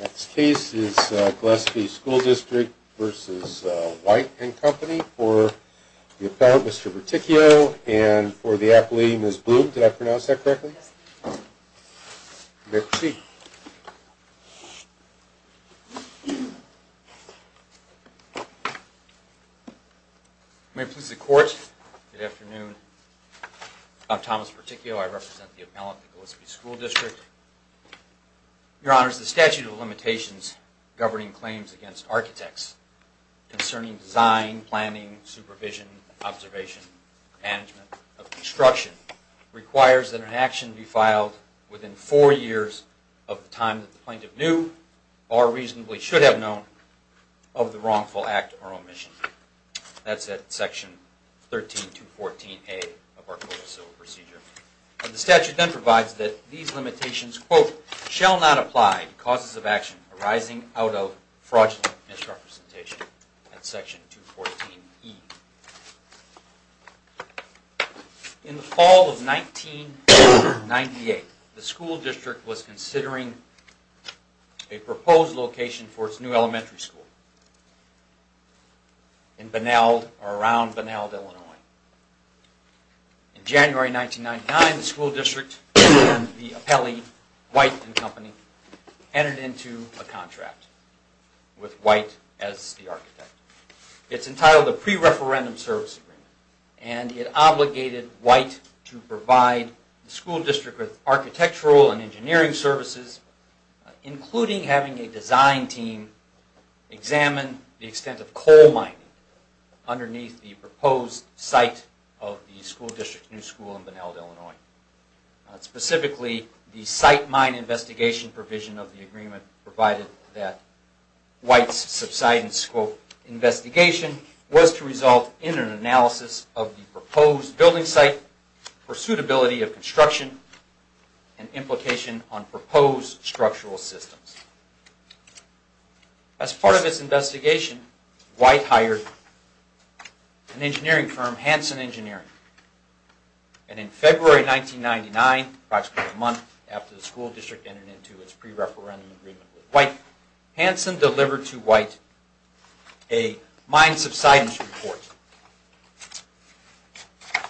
Next case is Gillespie School District v. Wight & Company for the Appellant, Mr. Perticchio, and for the Appellee, Ms. Bloom. Did I pronounce that correctly? Yes. You may proceed. May it please the Court, good afternoon. I'm Thomas Perticchio. I represent the Appellant of the Gillespie School District. Your Honors, the statute of limitations governing claims against architects concerning design, planning, supervision, observation, and management of construction requires that an action be filed within four years of the time that the plaintiff knew or reasonably should have known of the wrongful act or omission. That's at Section 13214A of our Code of Civil Procedure. The statute then provides that these limitations, quote, shall not apply to causes of action arising out of fraudulent misrepresentation at Section 214E. In the fall of 1998, the school district was considering a proposed location for its new elementary school in Benalde or around Benalde, Illinois. In January 1999, the school district and the Appellee, Wight & Company, entered into a contract with Wight as the architect. It's entitled the Pre-Referendum Service Agreement, and it obligated Wight to provide the school district with architectural and engineering services, including having a design team examine the extent of coal mining underneath the proposed site. Specifically, the site mine investigation provision of the agreement provided that Wight's subsidence, quote, investigation was to result in an analysis of the proposed building site for suitability of construction and implication on proposed structural systems. As part of its investigation, Wight hired an engineering firm, Hanson Engineering, and in February 1999, approximately a month after the school district entered into its pre-referendum agreement with Wight, Hanson delivered to Wight a mine subsidence report.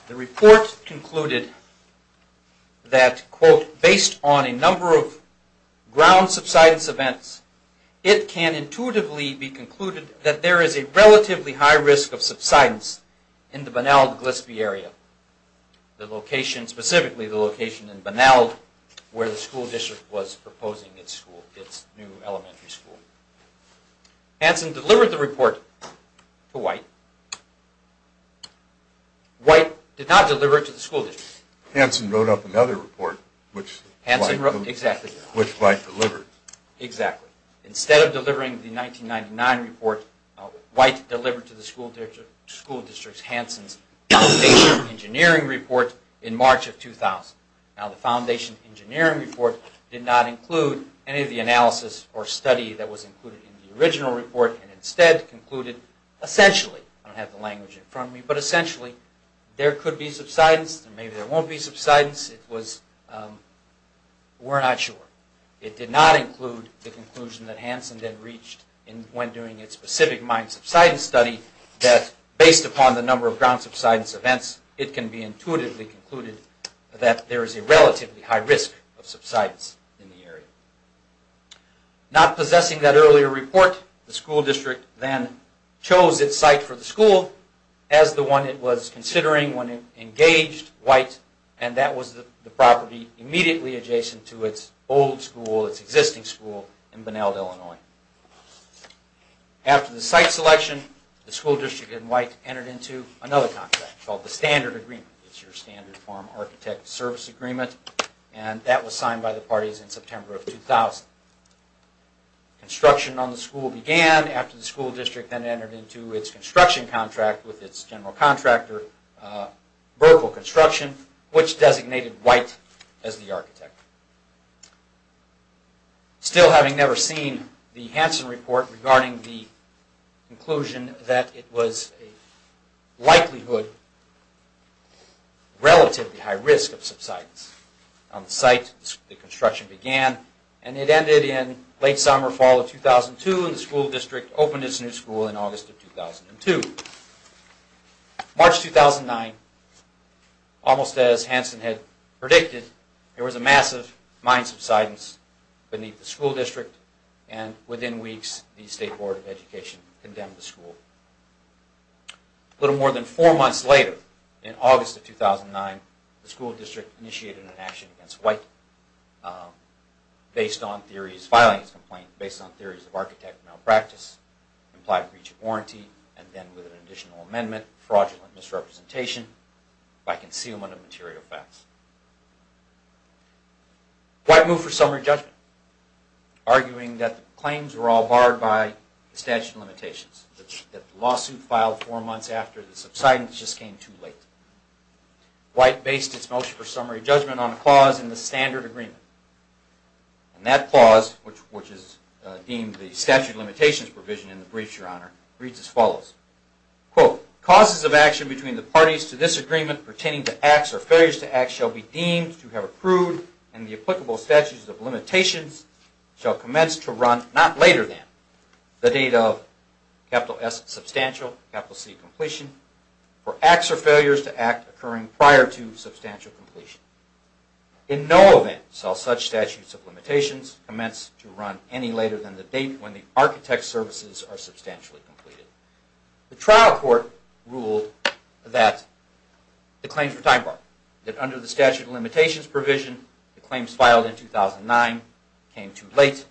The report concluded that, quote, based on a number of ground subsidence events, it can intuitively be concluded that there is a relatively high risk of subsidence in the Benalde-Glisby area, specifically the location in Benalde where the school district was proposing its new elementary school. Hanson delivered the report to Wight. Wight did not deliver it to the school district. Hanson wrote up another report, which Wight delivered. Instead of delivering the 1999 report, Wight delivered to the school district Hanson's foundation engineering report in March of 2000. Now the foundation engineering report did not include any of the analysis or study that was included in the original report and instead concluded, essentially, I don't have the language in front of me, but essentially, there could be subsidence, maybe there won't be subsidence, we're not sure. It did not include the conclusion that Hanson had reached when doing its specific mine subsidence study that, based upon the number of ground subsidence events, it can be intuitively concluded that there is a relatively high risk of subsidence in the area. Not possessing that earlier report, the school district then chose its site for the school as the one it was considering when it engaged Wight and that was the property immediately adjacent to its old school, its existing school in Benalde, Illinois. After the site selection, the school district and Wight entered into another contract called the Standard Agreement. It's your standard form of architect service agreement and that was signed by the parties in September of 2000. Construction on the school began after the school district then entered into its construction contract with its general contractor, Burkle Construction, which designated Wight as the architect. Still having never seen the Hanson report regarding the conclusion that it was a likelihood, relatively high risk of subsidence on the site, the construction began and it ended in late summer, fall of 2002 and the school district opened its new school in August of 2002. March 2009, almost as Hanson had predicted, there was a massive mine subsidence beneath the school district and within weeks the State Board of Education condemned the school. A little more than four months later, in August of 2009, the school district initiated an action against Wight based on theories of architect malpractice, implied breach of warranty, and then with an additional amendment, fraudulent misrepresentation by concealment of material facts. Wight moved for summary judgment, arguing that the claims were all barred by the statute of limitations, that the lawsuit filed four months after the subsidence just came too late. Wight based its motion for summary judgment on a clause in the Standard Agreement and that clause, which is deemed the statute of limitations provision in the briefs, your honor, reads as follows. Quote, causes of action between the parties to this agreement pertaining to acts or failures to acts shall be deemed to have approved and the applicable statutes of limitations shall commence to run not later than the date of capital S substantial, capital C completion, for acts or failures to act occurring prior to substantial completion. In no event shall such statutes of limitations commence to run any later than the date when the architect's services are substantially completed. The trial court ruled that the claims were time barred, that under the statute of limitations provision the claims filed in 2009 came too late,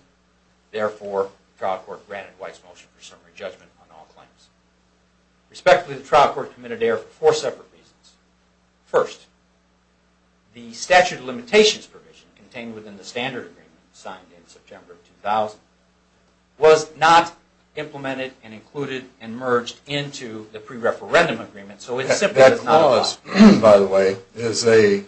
therefore the trial court granted Wight's motion for summary judgment on all claims. Respectfully, the trial court committed error for four separate reasons. First, the statute of limitations provision contained within the Standard Agreement signed in September 2000 was not implemented and included and merged into the pre-referendum agreement, so it simply does not apply. That clause, by the way, is a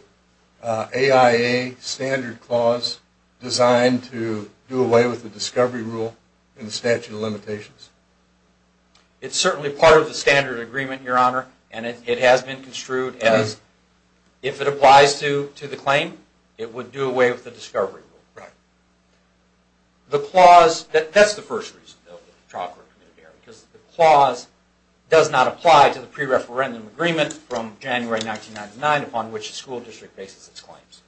AIA standard clause designed to do away with the discovery rule in the statute of limitations? It's certainly part of the Standard Agreement, Your Honor, and it has been construed as, if it applies to the claim, it would do away with the discovery rule. That's the first reason the trial court committed error, because the clause does not apply to the pre-referendum agreement from January 1999 upon which the school district bases its claims.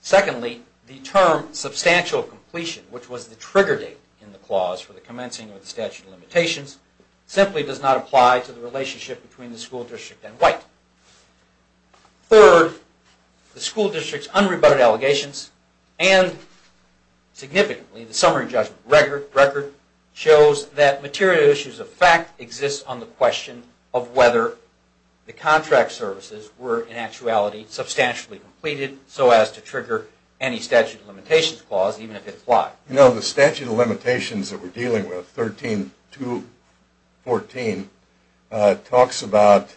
Secondly, the term substantial completion, which was the trigger date in the clause for the commencing of the statute of limitations, simply does not apply to the relationship between the school district and Wight. Third, the school district's unrebutted allegations and, significantly, the summary judgment record shows that material issues of fact exist on the question of whether the contract services were, in actuality, substantially completed so as to trigger any statute of limitations clause, even if it applied. You know, the statute of limitations that we're dealing with, 13-14, talks about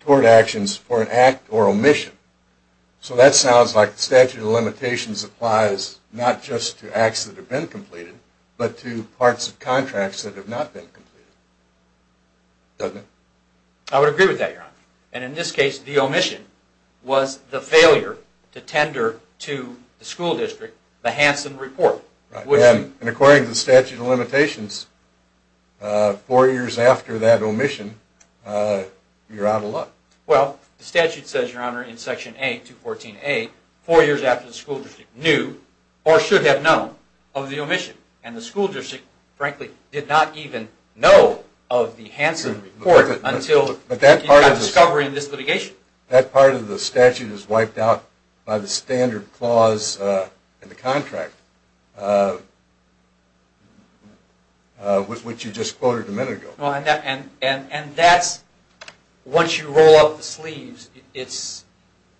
tort actions for an act or omission. So that sounds like the statute of limitations applies not just to acts that have been completed, but to parts of contracts that have not been completed, doesn't it? I would agree with that, Your Honor. And in this case, the omission was the failure to tender to the school district the Hansen Report. And according to the statute of limitations, four years after that omission, you're out of luck. Well, the statute says, Your Honor, in Section A, 214A, four years after the school district knew or should have known of the omission. And the school district, frankly, did not even know of the Hansen Report until the discovery of this litigation. That part of the statute is wiped out by the standard clause in the contract, which you just quoted a minute ago. And that's, once you roll up the sleeves, it's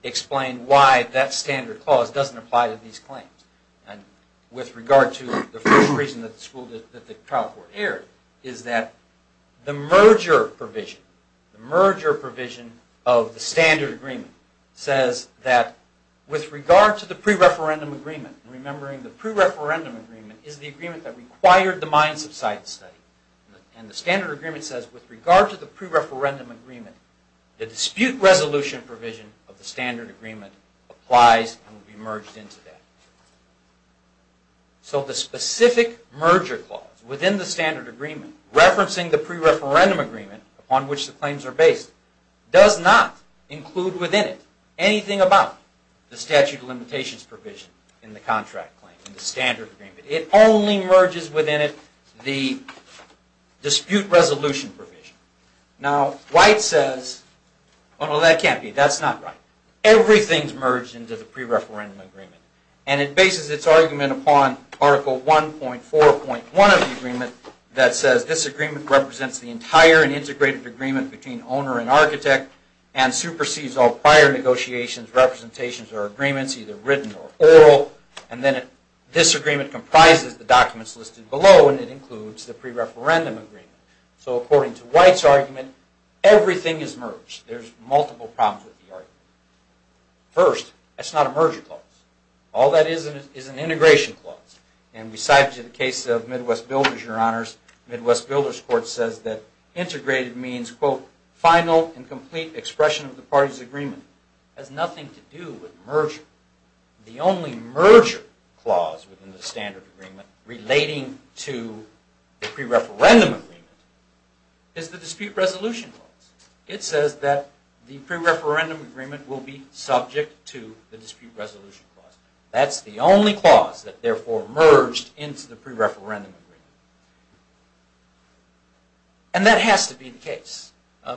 explained why that standard clause doesn't apply to these claims. And with regard to the first reason that the trial court erred, is that the merger provision of the standard agreement says that, with regard to the pre-referendum agreement, remembering the pre-referendum agreement is the agreement that required the mine subsidence study. And the standard agreement says, with regard to the pre-referendum agreement, the dispute resolution provision of the standard agreement applies and will be merged into that. So the specific merger clause within the standard agreement, referencing the pre-referendum agreement upon which the claims are based, does not include within it anything about the statute of limitations provision in the contract claim, in the standard agreement. It only merges within it the dispute resolution provision. Now, White says, oh no, that can't be, that's not right. Everything's merged into the pre-referendum agreement. And it bases its argument upon Article 1.4.1 of the agreement that says, this agreement represents the entire and integrated agreement between owner and architect, and supersedes all prior negotiations, representations, or agreements, either written or oral. And then this agreement comprises the documents listed below, and it includes the pre-referendum agreement. So according to White's argument, everything is merged. There's multiple problems with the argument. First, that's not a merger clause. All that is is an integration clause. And we cited the case of Midwest Builders, Your Honors. Midwest Builders Court says that integrated means, quote, final and complete expression of the party's agreement. It has nothing to do with merger. The only merger clause within the standard agreement relating to the pre-referendum agreement is the dispute resolution clause. It says that the pre-referendum agreement will be subject to the dispute resolution clause. That's the only clause that therefore merged into the pre-referendum agreement.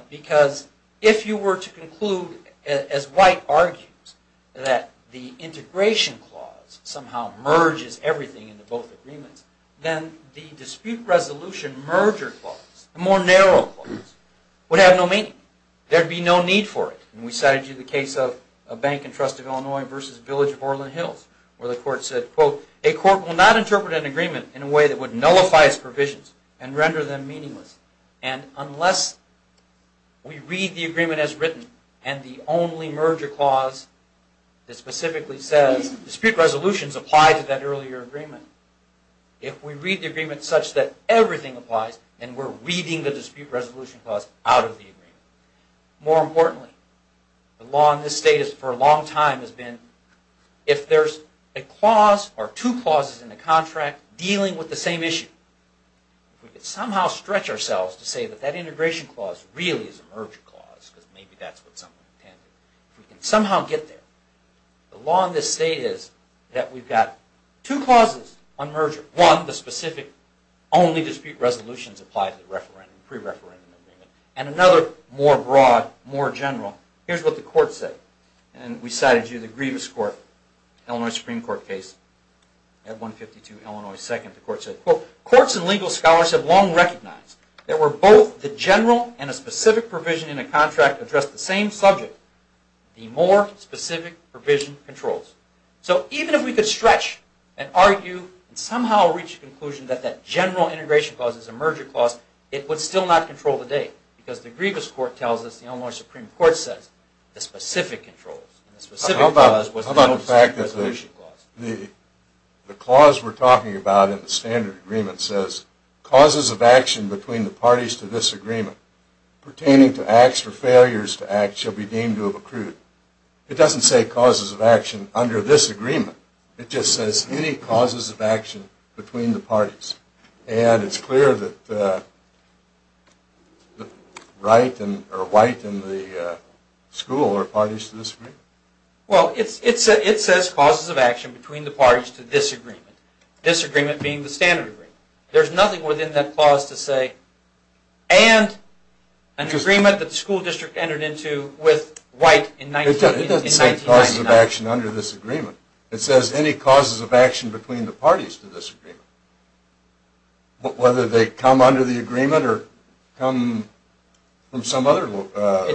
Because if you were to conclude, as White argues, that the integration clause somehow merges everything into both agreements, then the dispute resolution merger clause, the more narrow clause, would have no meaning. There would be no need for it. And we cited the case of Bank and Trust of Illinois v. Village of Orland Hills, where the court said, quote, a court will not interpret an agreement in a way that would nullify its provisions and render them meaningless. And unless we read the agreement as written, and the only merger clause that specifically says dispute resolutions apply to that earlier agreement, if we read the agreement such that everything applies, then we're reading the dispute resolution clause out of the agreement. More importantly, the law in this state for a long time has been, if there's a clause or two clauses in the contract dealing with the same issue, if we could somehow stretch ourselves to say that that integration clause really is a merger clause, because maybe that's what someone intended, if we can somehow get there, the law in this state is that we've got two clauses on merger. One, the specific only dispute resolutions apply to the referendum, pre-referendum agreement. And another, more broad, more general, here's what the court said. And we cited you, the Grievous Court, Illinois Supreme Court case at 152 Illinois 2nd. The court said, quote, courts and legal scholars have long recognized that where both the general and a specific provision in a contract address the same subject, the more specific provision controls. So even if we could stretch and argue and somehow reach a conclusion that that general integration clause is a merger clause, it would still not control the date. Because the Grievous Court tells us, the Illinois Supreme Court says, the specific controls. How about the fact that the clause we're talking about in the standard agreement says, causes of action between the parties to this agreement pertaining to acts or failures to acts shall be deemed to have accrued. It doesn't say causes of action under this agreement. It just says any causes of action between the parties. And it's clear that White and the school are parties to this agreement. Well, it says causes of action between the parties to this agreement. This agreement being the standard agreement. There's nothing within that clause to say, and an agreement that the school district entered into with White in 1999. It doesn't say causes of action under this agreement. It says any causes of action between the parties to this agreement. Whether they come under the agreement or come from some other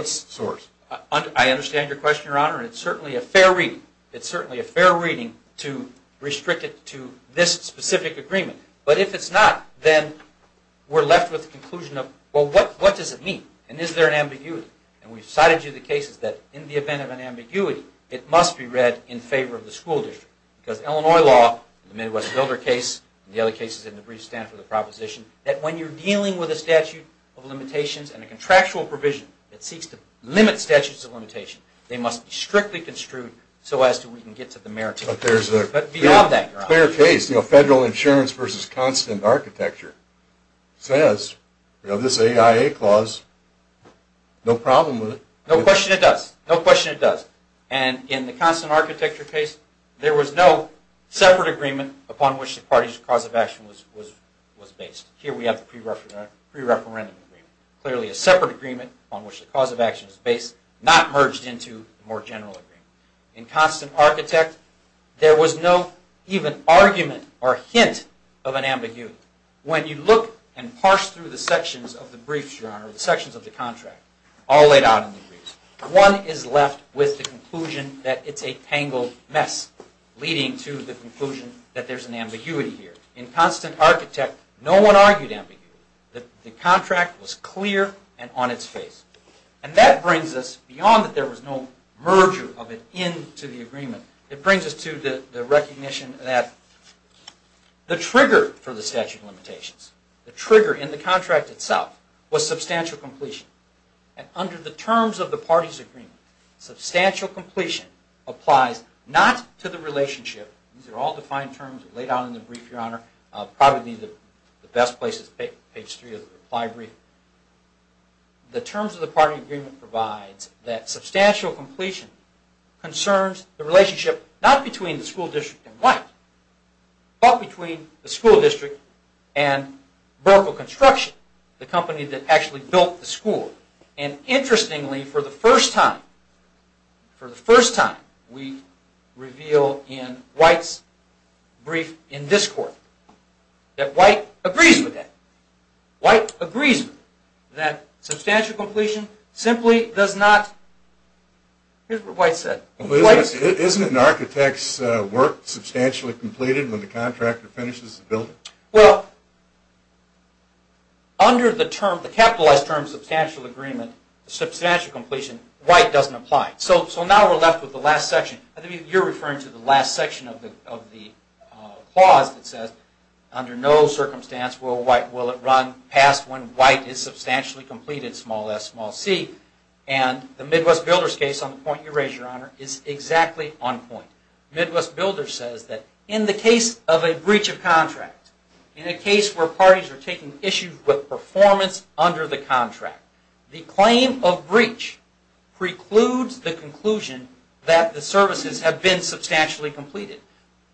source. I understand your question, Your Honor, and it's certainly a fair reading. It's certainly a fair reading to restrict it to this specific agreement. But if it's not, then we're left with the conclusion of, well, what does it mean? And is there an ambiguity? And we've cited to you the cases that in the event of an ambiguity, it must be read in favor of the school district. Because Illinois law, the Midwest Builder case, and the other cases in the brief stand for the proposition, that when you're dealing with a statute of limitations and a contractual provision that seeks to limit statutes of limitation, they must be strictly construed so as to we can get to the merits. But beyond that, Your Honor. In this case, federal insurance versus constant architecture says this AIA clause, no problem with it. No question it does. No question it does. And in the constant architecture case, there was no separate agreement upon which the parties' cause of action was based. Here we have the pre-referendum agreement. Clearly a separate agreement upon which the cause of action is based, not merged into a more general agreement. In constant architect, there was no even argument or hint of an ambiguity. When you look and parse through the sections of the briefs, Your Honor, the sections of the contract, all laid out in the briefs, one is left with the conclusion that it's a tangled mess, leading to the conclusion that there's an ambiguity here. In constant architect, no one argued ambiguity. The contract was clear and on its face. And that brings us beyond that there was no merger of an end to the agreement. It brings us to the recognition that the trigger for the statute of limitations, the trigger in the contract itself, was substantial completion. And under the terms of the parties' agreement, substantial completion applies not to the relationship. These are all defined terms laid out in the brief, Your Honor. Probably the best place is page three of the reply brief. The terms of the party agreement provides that substantial completion concerns the relationship, not between the school district and White, but between the school district and Burkle Construction, the company that actually built the school. And interestingly, for the first time, for the first time, we reveal in White's brief in this court that White agrees with that. White agrees that substantial completion simply does not... Here's what White said. Isn't an architect's work substantially completed when the contractor finishes the building? Well, under the term, the capitalized term substantial agreement, substantial completion, White doesn't apply. So now we're left with the last section. I think you're referring to the last section of the clause that says, under no circumstance will it run past when White is substantially completed, small s, small c. And the Midwest Builders case, on the point you raised, Your Honor, is exactly on point. Midwest Builders says that in the case of a breach of contract, in a case where parties are taking issues with performance under the contract, the claim of breach precludes the conclusion that the services have been substantially completed.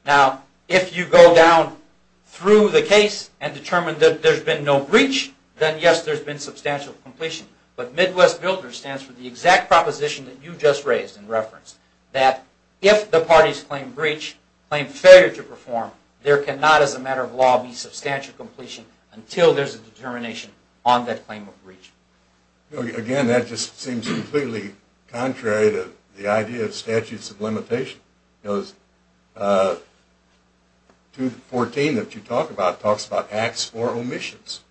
Now, if you go down through the case and determine that there's been no breach, then yes, there's been substantial completion. But Midwest Builders stands for the exact proposition that you just raised in reference, that if the parties claim breach, claim failure to perform, there cannot, as a matter of law, be substantial completion until there's a determination on that claim of breach. Again, that just seems completely contrary to the idea of statutes of limitation. Because 214 that you talk about talks about acts for omissions.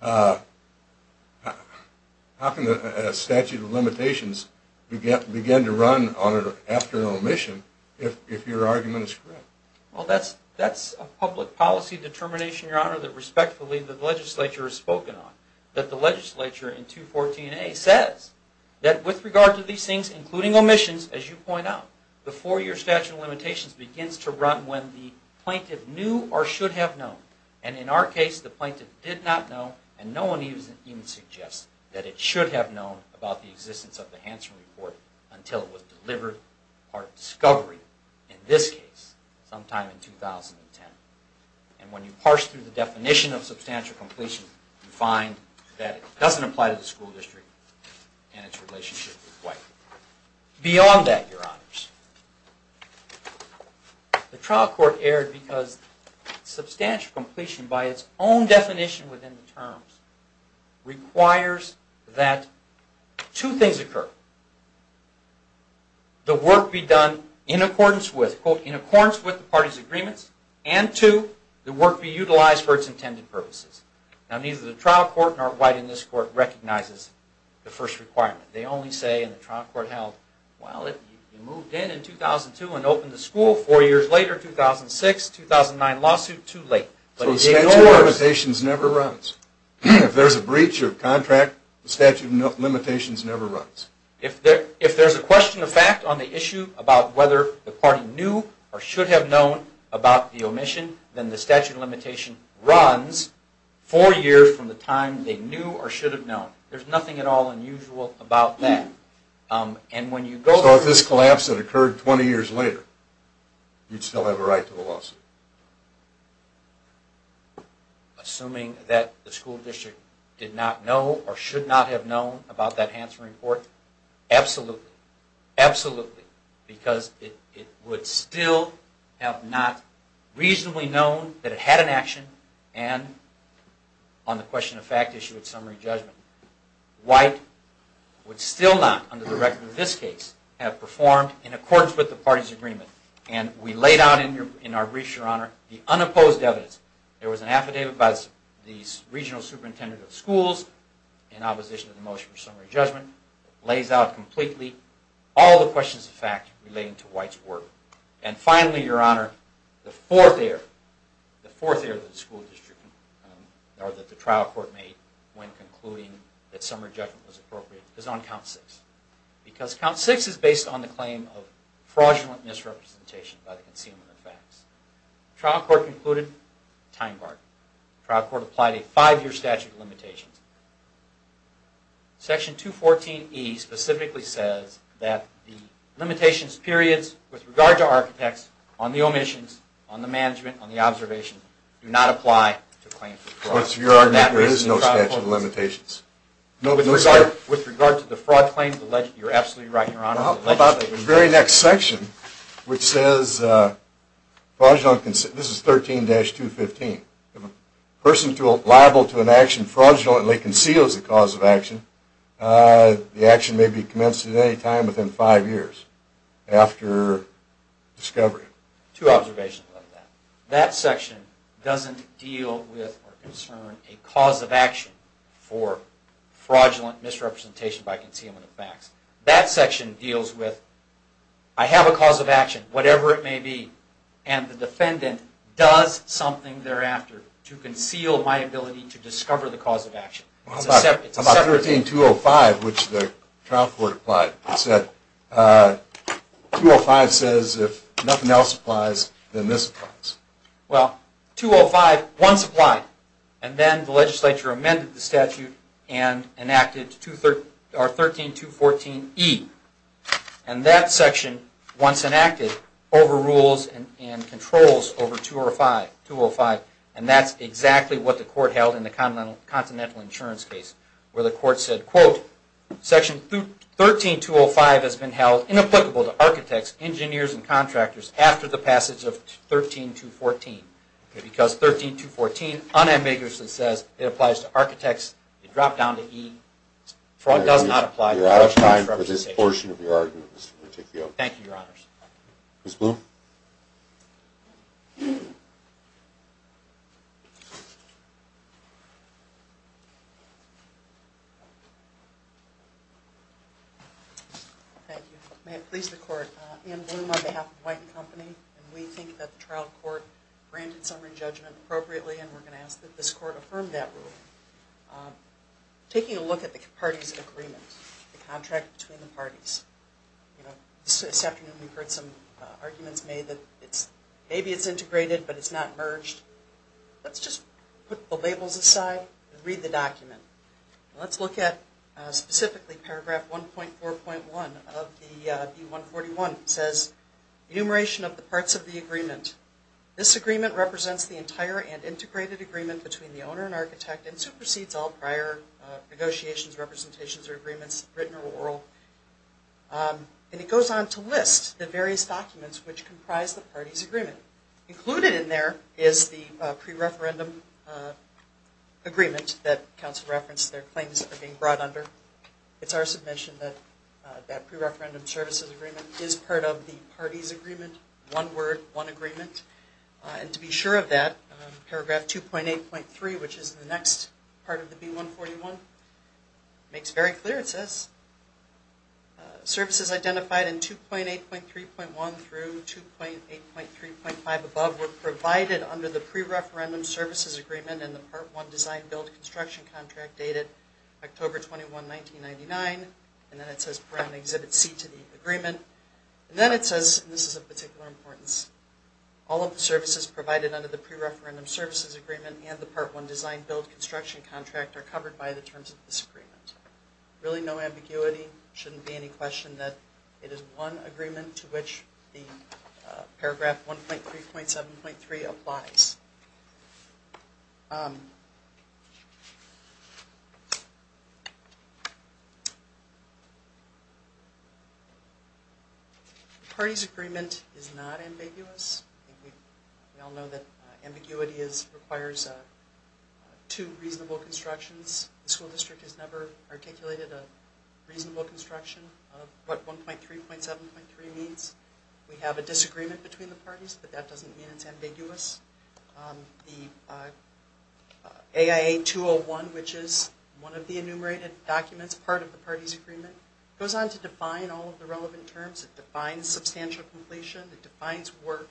How can a statute of limitations begin to run after an omission if your argument is correct? Well, that's a public policy determination, Your Honor, that respectfully the legislature has spoken on, that the legislature in 214A says that with regard to these things, including omissions, as you point out, the four-year statute of limitations begins to run when the plaintiff knew or should have known. And in our case, the plaintiff did not know, and no one even suggests that it should have known about the existence of the Hansen Report until it was delivered or discovered, in this case, sometime in 2010. And when you parse through the definition of substantial completion, you find that it doesn't apply to the school district and its relationship with White. Beyond that, Your Honors, the trial court erred because substantial completion, by its own definition within the terms, requires that two things occur. The work be done in accordance with, quote, in accordance with the party's agreements, and two, the work be utilized for its intended purposes. Now, neither the trial court nor White in this court recognizes the first requirement. They only say in the trial court held, well, it moved in in 2002 and opened the school. Four years later, 2006, 2009 lawsuit, too late. So the statute of limitations never runs. If there's a breach of contract, the statute of limitations never runs. If there's a question of fact on the issue about whether the party knew or should have known about the omission, then the statute of limitation runs four years from the time they knew or should have known. There's nothing at all unusual about that. So if this collapse had occurred 20 years later, you'd still have a right to the lawsuit? Assuming that the school district did not know or should not have known about that Hansen report? Absolutely. Absolutely. Because it would still have not reasonably known that it had an action, and on the question of fact issue at summary judgment. White would still not, under the record of this case, have performed in accordance with the party's agreement. And we laid out in our briefs, Your Honor, the unopposed evidence. There was an affidavit by the regional superintendent of schools in opposition to the motion for summary judgment. It lays out completely all the questions of fact relating to White's work. And finally, Your Honor, the fourth error. Or that the trial court made when concluding that summary judgment was appropriate, is on count six. Because count six is based on the claim of fraudulent misrepresentation by the concealment of facts. Trial court concluded, time barred. Trial court applied a five-year statute of limitations. Section 214E specifically says that the limitations periods with regard to architects on the omissions, on the management, on the observation, do not apply to claims of fraud. There is no statute of limitations. With regard to the fraud claim, you're absolutely right, Your Honor. How about the very next section, which says, this is 13-215. If a person liable to an action fraudulently conceals the cause of action, the action may be commenced at any time within five years after discovery. Two observations on that. That section doesn't deal with or concern a cause of action for fraudulent misrepresentation by concealment of facts. That section deals with, I have a cause of action, whatever it may be, and the defendant does something thereafter to conceal my ability to discover the cause of action. How about 13-205, which the trial court applied? It said, 205 says if nothing else applies, then this applies. Well, 205 once applied. And then the legislature amended the statute and enacted 13-214E. And that section, once enacted, overrules and controls over 205. And that's exactly what the court held in the Continental Insurance case, where the court said, quote, Section 13-205 has been held inapplicable to architects, engineers, and contractors after the passage of 13-214. Because 13-214 unambiguously says it applies to architects. It dropped down to E. Fraud does not apply. You're out of time for this portion of your argument, Mr. Peticchio. Thank you, Your Honors. Ms. Bloom? Thank you. May it please the Court, Anne Bloom on behalf of White & Company, and we think that the trial court granted summary judgment appropriately, and we're going to ask that this court affirm that rule. Taking a look at the parties' agreement, the contract between the parties, this afternoon we've heard some arguments made that maybe it's integrated, but it's not merged. Let's just put the labels aside and read the document. Let's look at specifically paragraph 1.4.1 of the B141. It says, Enumeration of the Parts of the Agreement. This agreement represents the entire and integrated agreement between the owner and architect and supersedes all prior negotiations, representations, or agreements written or oral. And it goes on to list the various documents which comprise the parties' agreement. Included in there is the pre-referendum agreement that counsel referenced their claims are being brought under. It's our submission that that pre-referendum services agreement is part of the parties' agreement, one word, one agreement. And to be sure of that, paragraph 2.8.3, which is the next part of the B141, makes very clear, it says, services identified in 2.8.3.1 through 2.8.3.5 above were provided under the pre-referendum services agreement and the Part 1 Design-Build Construction Contract dated October 21, 1999. And then it says, present Exhibit C to the agreement. And then it says, and this is of particular importance, all of the services provided under the pre-referendum services agreement and the Part 1 Design-Build Construction Contract are covered by the terms of this agreement. Really no ambiguity. It shouldn't be any question that it is one agreement to which the paragraph 1.3.7.3 applies. The parties' agreement is not ambiguous. We all know that ambiguity requires two reasonable constructions. The school district has never articulated a reasonable construction of what 1.3.7.3 means. We have a disagreement between the parties, but that doesn't mean it's ambiguous. The AIA-201, which is one of the enumerated documents, part of the parties' agreement, goes on to define all of the relevant terms. It defines substantial completion. It defines work.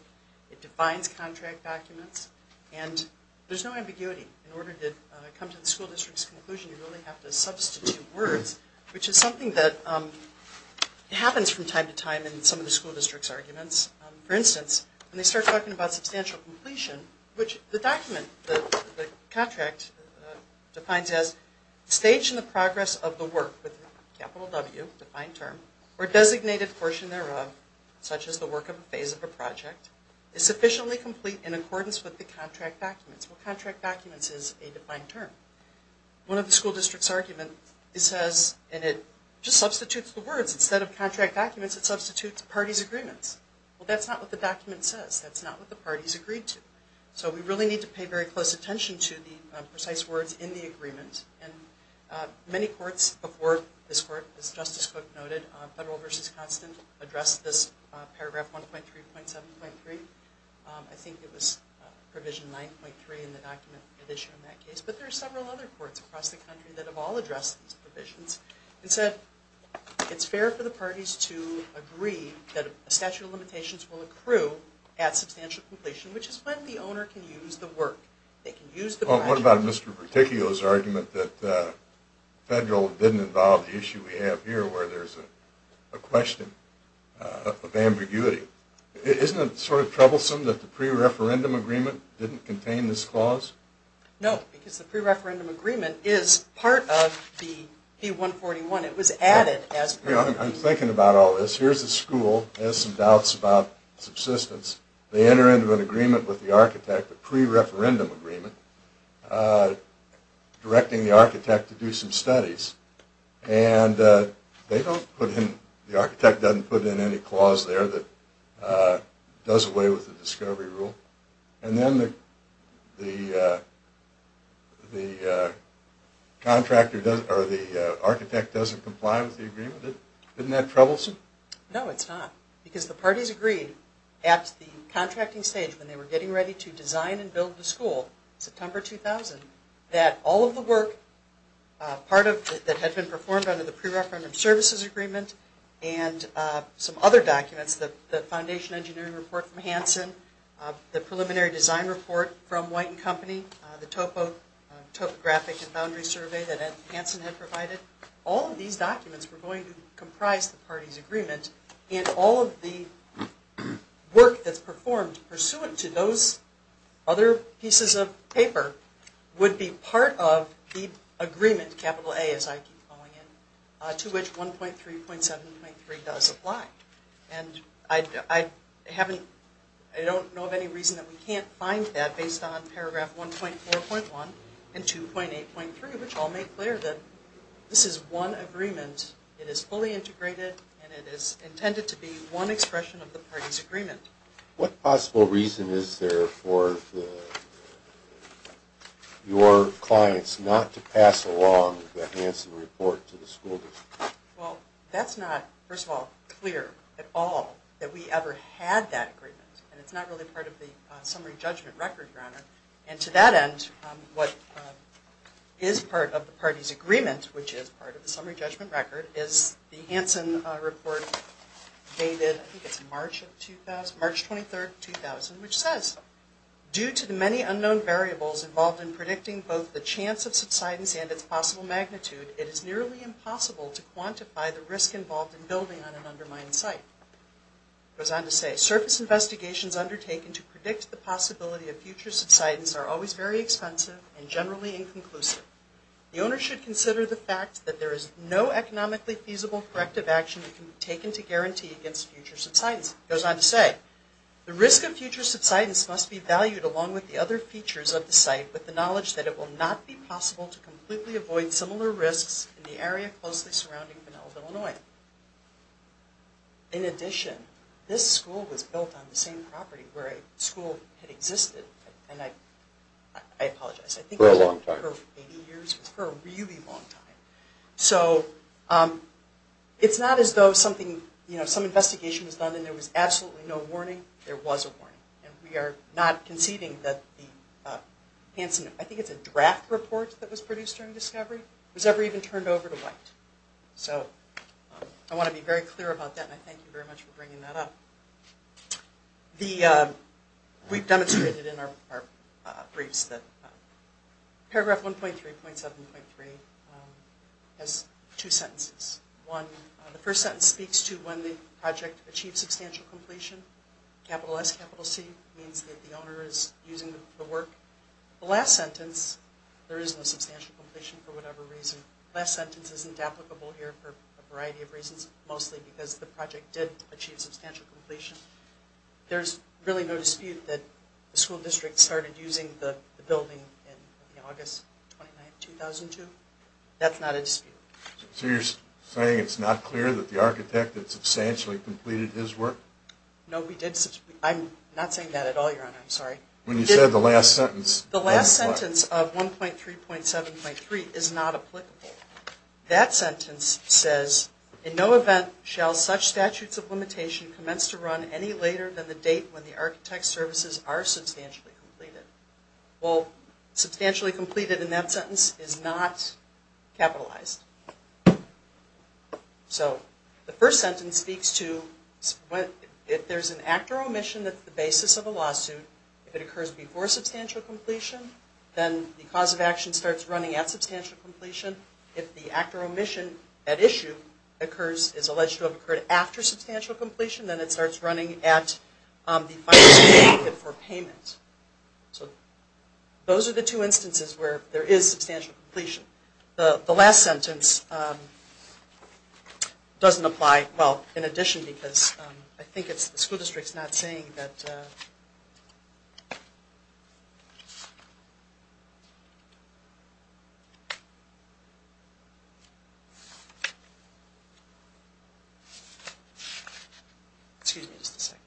It defines contract documents. And there's no ambiguity. In order to come to the school district's conclusion, you really have to substitute words, which is something that happens from time to time in some of the school district's arguments. For instance, when they start talking about substantial completion, which the document, the contract, defines as stage in the progress of the work with a capital W, defined term, or designated portion thereof, such as the work of a phase of a project, is sufficiently complete in accordance with the contract documents. Well, contract documents is a defined term. One of the school district's arguments says, and it just substitutes the words, instead of contract documents, it substitutes parties' agreements. Well, that's not what the document says. That's not what the parties agreed to. So we really need to pay very close attention to the precise words in the agreement. Many courts before this court, as Justice Cook noted, Federal v. Constant addressed this paragraph 1.3.7.3. I think it was provision 9.3 in the document that issued in that case. But there are several other courts across the country that have all addressed these provisions and said it's fair for the parties to agree that a statute of limitations will accrue at substantial completion, which is when the owner can use the work. Well, what about Mr. Berticchio's argument that federal didn't involve the issue we have here, where there's a question of ambiguity? Isn't it sort of troublesome that the pre-referendum agreement didn't contain this clause? No, because the pre-referendum agreement is part of the v. 141. It was added as pre-referendum. I'm thinking about all this. Here's a school that has some doubts about subsistence. They enter into an agreement with the architect, a pre-referendum agreement, directing the architect to do some studies. And the architect doesn't put in any clause there that does away with the discovery rule. And then the architect doesn't comply with the agreement. Isn't that troublesome? No, it's not. Because the parties agreed at the contracting stage, when they were getting ready to design and build the school, September 2000, that all of the work that had been performed under the pre-referendum services agreement and some other documents, the foundation engineering report from Hansen, the preliminary design report from White & Company, the topographic and boundary survey that Hansen had provided, all of these documents were going to comprise the parties' agreement, and all of the work that's performed pursuant to those other pieces of paper would be part of the agreement, capital A as I keep calling it, to which 1.3.7.3 does apply. And I don't know of any reason that we can't find that based on paragraph 1.4.1 and 2.8.3, to which I'll make clear that this is one agreement. It is fully integrated, and it is intended to be one expression of the parties' agreement. What possible reason is there for your clients not to pass along the Hansen report to the school district? Well, that's not, first of all, clear at all that we ever had that agreement, and it's not really part of the summary judgment record, Your Honor. And to that end, what is part of the parties' agreement, which is part of the summary judgment record, is the Hansen report dated, I think it's March of 2000, March 23rd, 2000, which says, due to the many unknown variables involved in predicting both the chance of subsidence and its possible magnitude, it is nearly impossible to quantify the risk involved in building on an undermined site. It goes on to say, surface investigations undertaken to predict the possibility of future subsidence are always very expensive and generally inconclusive. The owner should consider the fact that there is no economically feasible corrective action that can be taken to guarantee against future subsidence. It goes on to say, the risk of future subsidence must be valued along with the other features of the site with the knowledge that it will not be possible to completely avoid similar risks in the area closely surrounding Pinellas, Illinois. In addition, this school was built on the same property where a school had existed, and I apologize. For a long time. For 80 years, for a really long time. So, it's not as though something, you know, some investigation was done and there was absolutely no warning. There was a warning. And we are not conceding that the Hansen, I think it's a draft report that was produced during discovery, was ever even turned over to White. So, I want to be very clear about that and I thank you very much for bringing that up. We've demonstrated in our briefs that paragraph 1.3.7.3 has two sentences. One, the first sentence speaks to when the project achieved substantial completion. Capital S, capital C means that the owner is using the work. The last sentence, there is no substantial completion for whatever reason. The last sentence isn't applicable here for a variety of reasons, mostly because the project did achieve substantial completion. There's really no dispute that the school district started using the building in August 2009, 2002. That's not a dispute. So, you're saying it's not clear that the architect had substantially completed his work? No, we did. I'm not saying that at all, Your Honor. I'm sorry. When you said the last sentence. The last sentence of 1.3.7.3 is not applicable. That sentence says, in no event shall such statutes of limitation commence to run any later than the date when the architect's services are substantially completed. Well, substantially completed in that sentence is not capitalized. So, the first sentence speaks to if there's an act or omission that's the basis of a lawsuit, if it occurs before substantial completion, then the cause of action starts running at substantial completion. If the act or omission at issue is alleged to have occurred after substantial completion, then it starts running at the final certificate for payment. So, those are the two instances where there is substantial completion. The last sentence doesn't apply. Well, in addition, because I think it's the school district's not saying that. Excuse me just a second.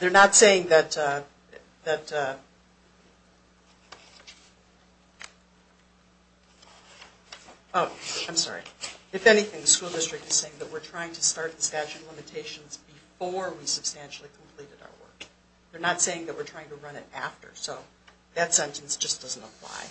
They're not saying that. I'm sorry. If anything, the school district is saying that we're trying to start the statute of limitations before we substantially completed our work. They're not saying that we're trying to run it after. So, that sentence just doesn't apply.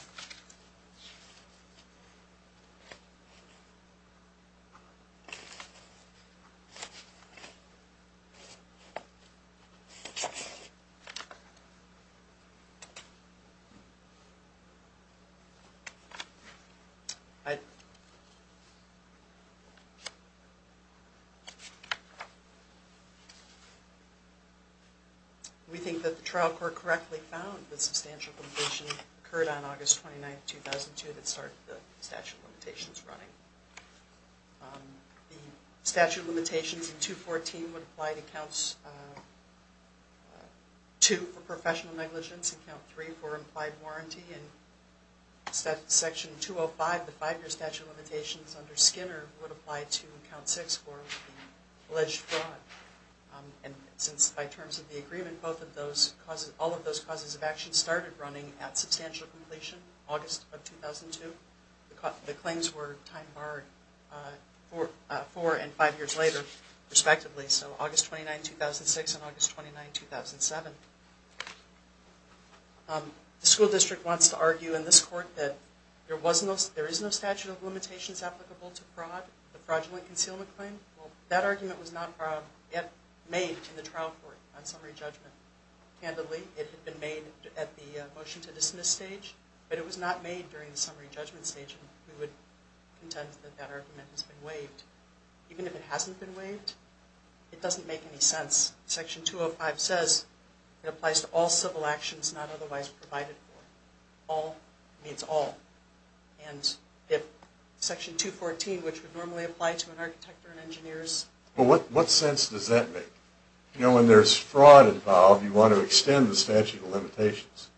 Okay. We think that the trial court correctly found that substantial completion occurred on August 29, 2002 that started the statute of limitations running. The statute of limitations in 214 would apply to accounts 2 for professional negligence, account 3 for implied warranty, and section 205, the five-year statute of limitations under Skinner, would apply to account 6 for alleged fraud. And since by terms of the agreement, all of those causes of action started running at substantial completion, August of 2002. The claims were time-barred four and five years later, respectively. So, August 29, 2006 and August 29, 2007. The school district wants to argue in this court that there is no statute of limitations applicable to fraud, the fraudulent concealment claim. Well, that argument was not yet made in the trial court on summary judgment. Handedly, it had been made at the motion to dismiss stage, but it was not made during the summary judgment stage, and we would contend that that argument has been waived. Even if it hasn't been waived, it doesn't make any sense. Section 205 says it applies to all civil actions not otherwise provided for. All means all. And if section 214, which would normally apply to an architect or an engineer's... Well, what sense does that make? You know, when there's fraud involved, you want to extend the statute of limitations.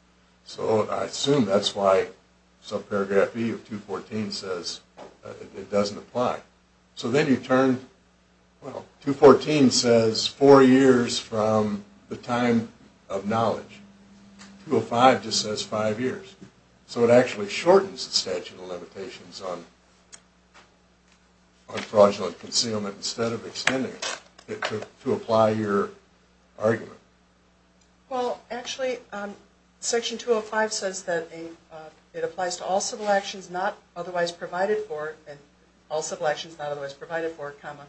So I assume that's why subparagraph B of 214 says it doesn't apply. So then you turn... Well, 214 says four years from the time of knowledge. 205 just says five years. So it actually shortens the statute of limitations on fraudulent concealment instead of extending it to apply your argument. Well, actually, section 205 says that it applies to all civil actions not otherwise provided for, and all civil actions not otherwise provided for, comma,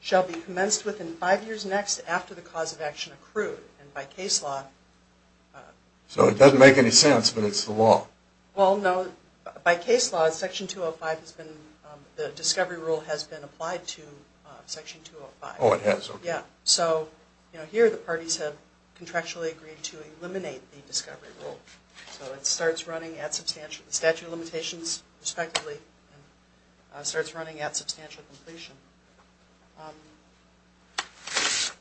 shall be commenced within five years next after the cause of action accrued. And by case law... So it doesn't make any sense, but it's the law. Well, no. By case law, section 205 has been... The discovery rule has been applied to section 205. Oh, it has? Okay. Yeah. So, you know, here the parties have contractually agreed to eliminate the discovery rule. So it starts running at substantial... The statute of limitations, respectively, starts running at substantial completion.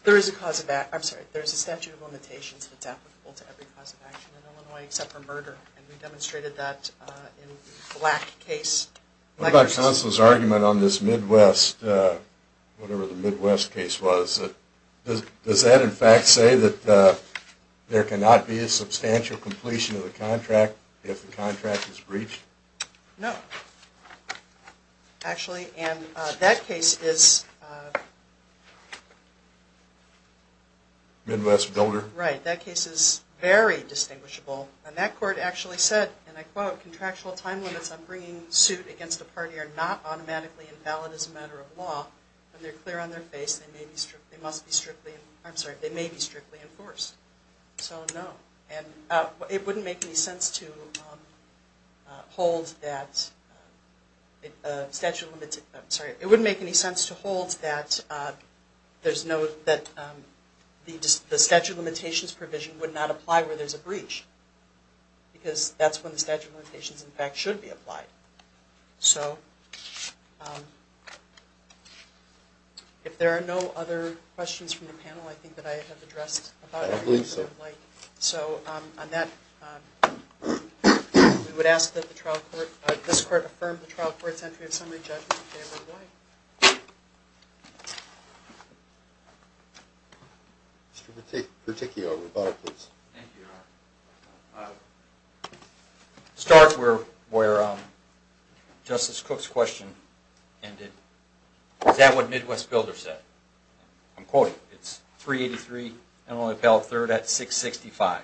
There is a cause of... I'm sorry, there is a statute of limitations that's applicable to every cause of action in Illinois except for murder, and we demonstrated that in the Black case. What about counsel's argument on this Midwest, whatever the Midwest case was? Does that, in fact, say that there cannot be a substantial completion of the contract if the contract is breached? No. Actually, and that case is... Midwest builder? Right. That case is very distinguishable. And that court actually said, and I quote, contractual time limits on bringing suit against a party are not automatically invalid as a matter of law. When they're clear on their face, they must be strictly... I'm sorry, they may be strictly enforced. So, no. And it wouldn't make any sense to hold that statute of... I'm sorry. It wouldn't make any sense to hold that there's no... The statute of limitations provision would not apply where there's a breach because that's when the statute of limitations, in fact, should be applied. So, if there are no other questions from the panel, I think that I have addressed about everything. I believe so. So, on that, we would ask that the trial court... Thank you, Mr. Chamberlain. Mr. Berticchio, rebuttal, please. Thank you, Your Honor. Start where Justice Cook's question ended. Is that what Midwest builder said? I'm quoting. It's 383 and only appelled third at 665.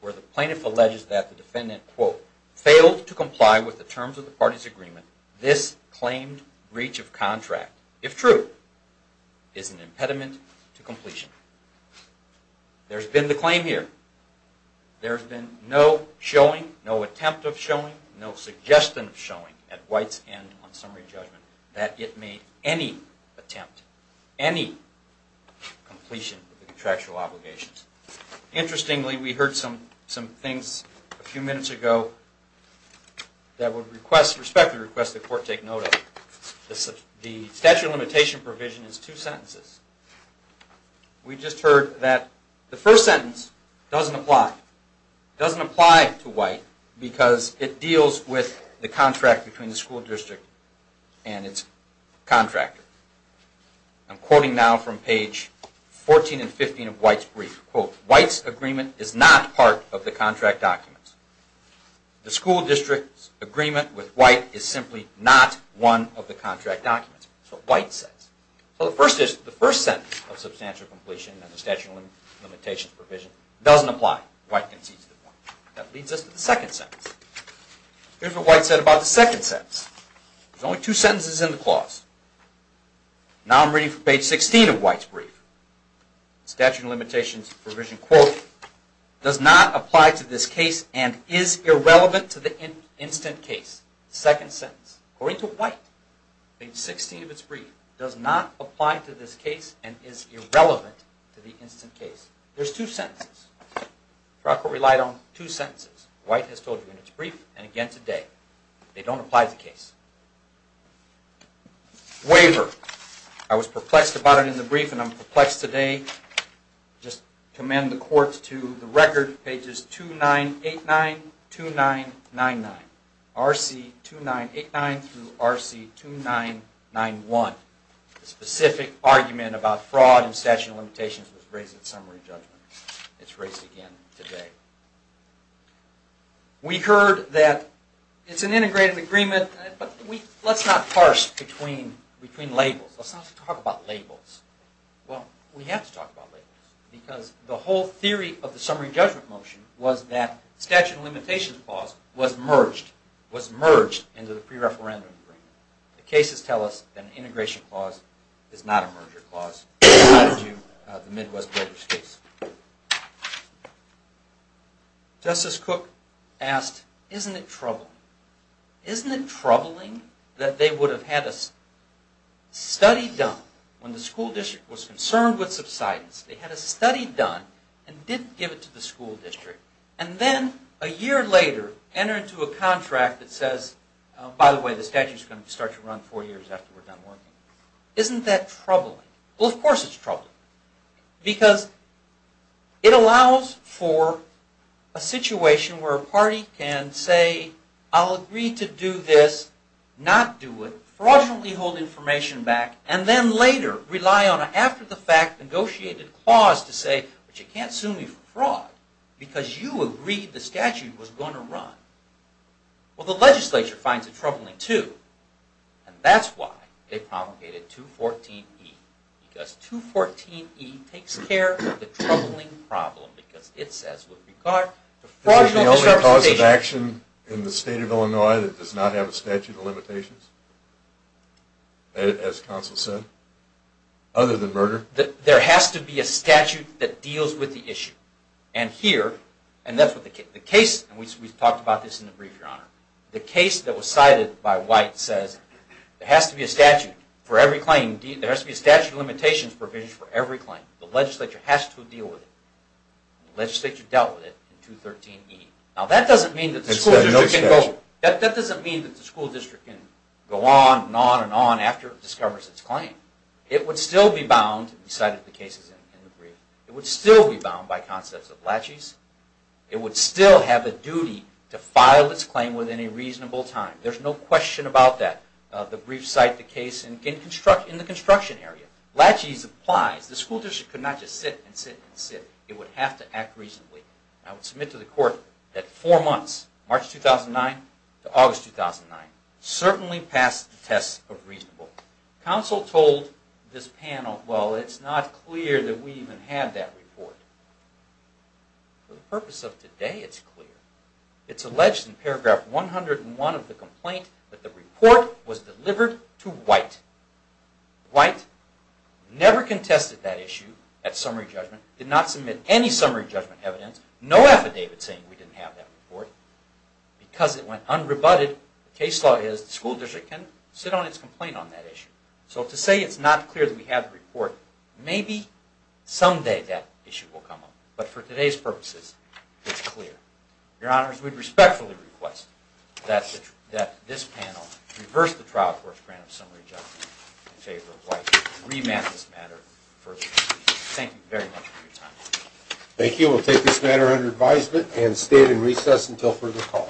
Where the plaintiff alleges that the defendant, quote, failed to comply with the terms of the party's agreement, this claimed breach of contract, if true, is an impediment to completion. There's been the claim here. There's been no showing, no attempt of showing, no suggestion of showing at White's end on summary judgment that it made any attempt, any completion of the contractual obligations. Interestingly, we heard some things a few minutes ago that would respectfully request the court take note of. The statute of limitation provision is two sentences. We just heard that the first sentence doesn't apply. It doesn't apply to White because it deals with the contract between the school district and its contractor. I'm quoting now from page 14 and 15 of White's brief. Quote, White's agreement is not part of the contract documents. The school district's agreement with White is simply not one of the contract documents. That's what White says. The first sentence of substantial completion of the statute of limitations provision doesn't apply. White concedes the point. That leads us to the second sentence. Here's what White said about the second sentence. There's only two sentences in the clause. Now I'm reading from page 16 of White's brief. Statute of limitations provision, quote, does not apply to this case and is irrelevant to the instant case. Second sentence. According to White, page 16 of his brief, does not apply to this case and is irrelevant to the instant case. There's two sentences. The record relied on two sentences. White has told you in his brief and again today. They don't apply to the case. Waiver. I was perplexed about it in the brief and I'm perplexed today. Just commend the court to the record, pages 2989-2999. RC-2989 through RC-2991. The specific argument about fraud and statute of limitations was raised at summary judgment. It's raised again today. We heard that it's an integrated agreement, but let's not parse between labels. Let's not talk about labels. Well, we have to talk about labels because the whole theory of the summary judgment motion was that statute of limitations clause was merged, was merged into the pre-referendum agreement. The cases tell us that an integration clause is not a merger clause tied to the Midwest Builders case. Justice Cook asked, isn't it troubling? Isn't it troubling that they would have had a study done when the school district was concerned with subsidence. They had a study done and didn't give it to the school district and then a year later enter into a contract that says, by the way, the statute is going to start to run four years after we're done working. Isn't that troubling? Well, of course it's troubling because it allows for a situation where a party can say, I'll agree to do this, not do it, fraudulently hold information back, and then later rely on an after-the-fact negotiated clause to say, but you can't sue me for fraud because you agreed the statute was going to run. Well, the legislature finds it troubling too, and that's why they promulgated 214E, because 214E takes care of the troubling problem because it says with regard to fraudulent representation. This is the only cause of action in the state of Illinois that does not have a statute of limitations, as counsel said, other than murder. There has to be a statute that deals with the issue, and here, and that's what the case, and we've talked about this in the brief, Your Honor. The case that was cited by White says there has to be a statute for every claim, there has to be a statute of limitations provision for every claim. The legislature has to deal with it. The legislature dealt with it in 213E. Now, that doesn't mean that the school district can go on and on and on after it discovers its claim. It would still be bound, we cited the cases in the brief, it would still be bound by concepts of laches, it would still have a duty to file its claim within a reasonable time. There's no question about that. The brief cited the case in the construction area. Laches applies. The school district could not just sit and sit and sit. It would have to act reasonably. I would submit to the Court that four months, March 2009 to August 2009, certainly passed the test of reasonable. Counsel told this panel, well, it's not clear that we even had that report. For the purpose of today, it's clear. It's alleged in paragraph 101 of the complaint that the report was delivered to White. White never contested that issue at summary judgment, did not submit any summary judgment evidence, no affidavit saying we didn't have that report. Because it went unrebutted, the case law is the school district can sit on its complaint on that issue. So to say it's not clear that we have the report, maybe someday that issue will come up. But for today's purposes, it's clear. Your Honors, we would respectfully request that this panel reverse the trial court's grant of summary judgment in favor of White to revamp this matter further. Thank you very much for your time. Thank you. We'll take this matter under advisement and stand in recess until further call.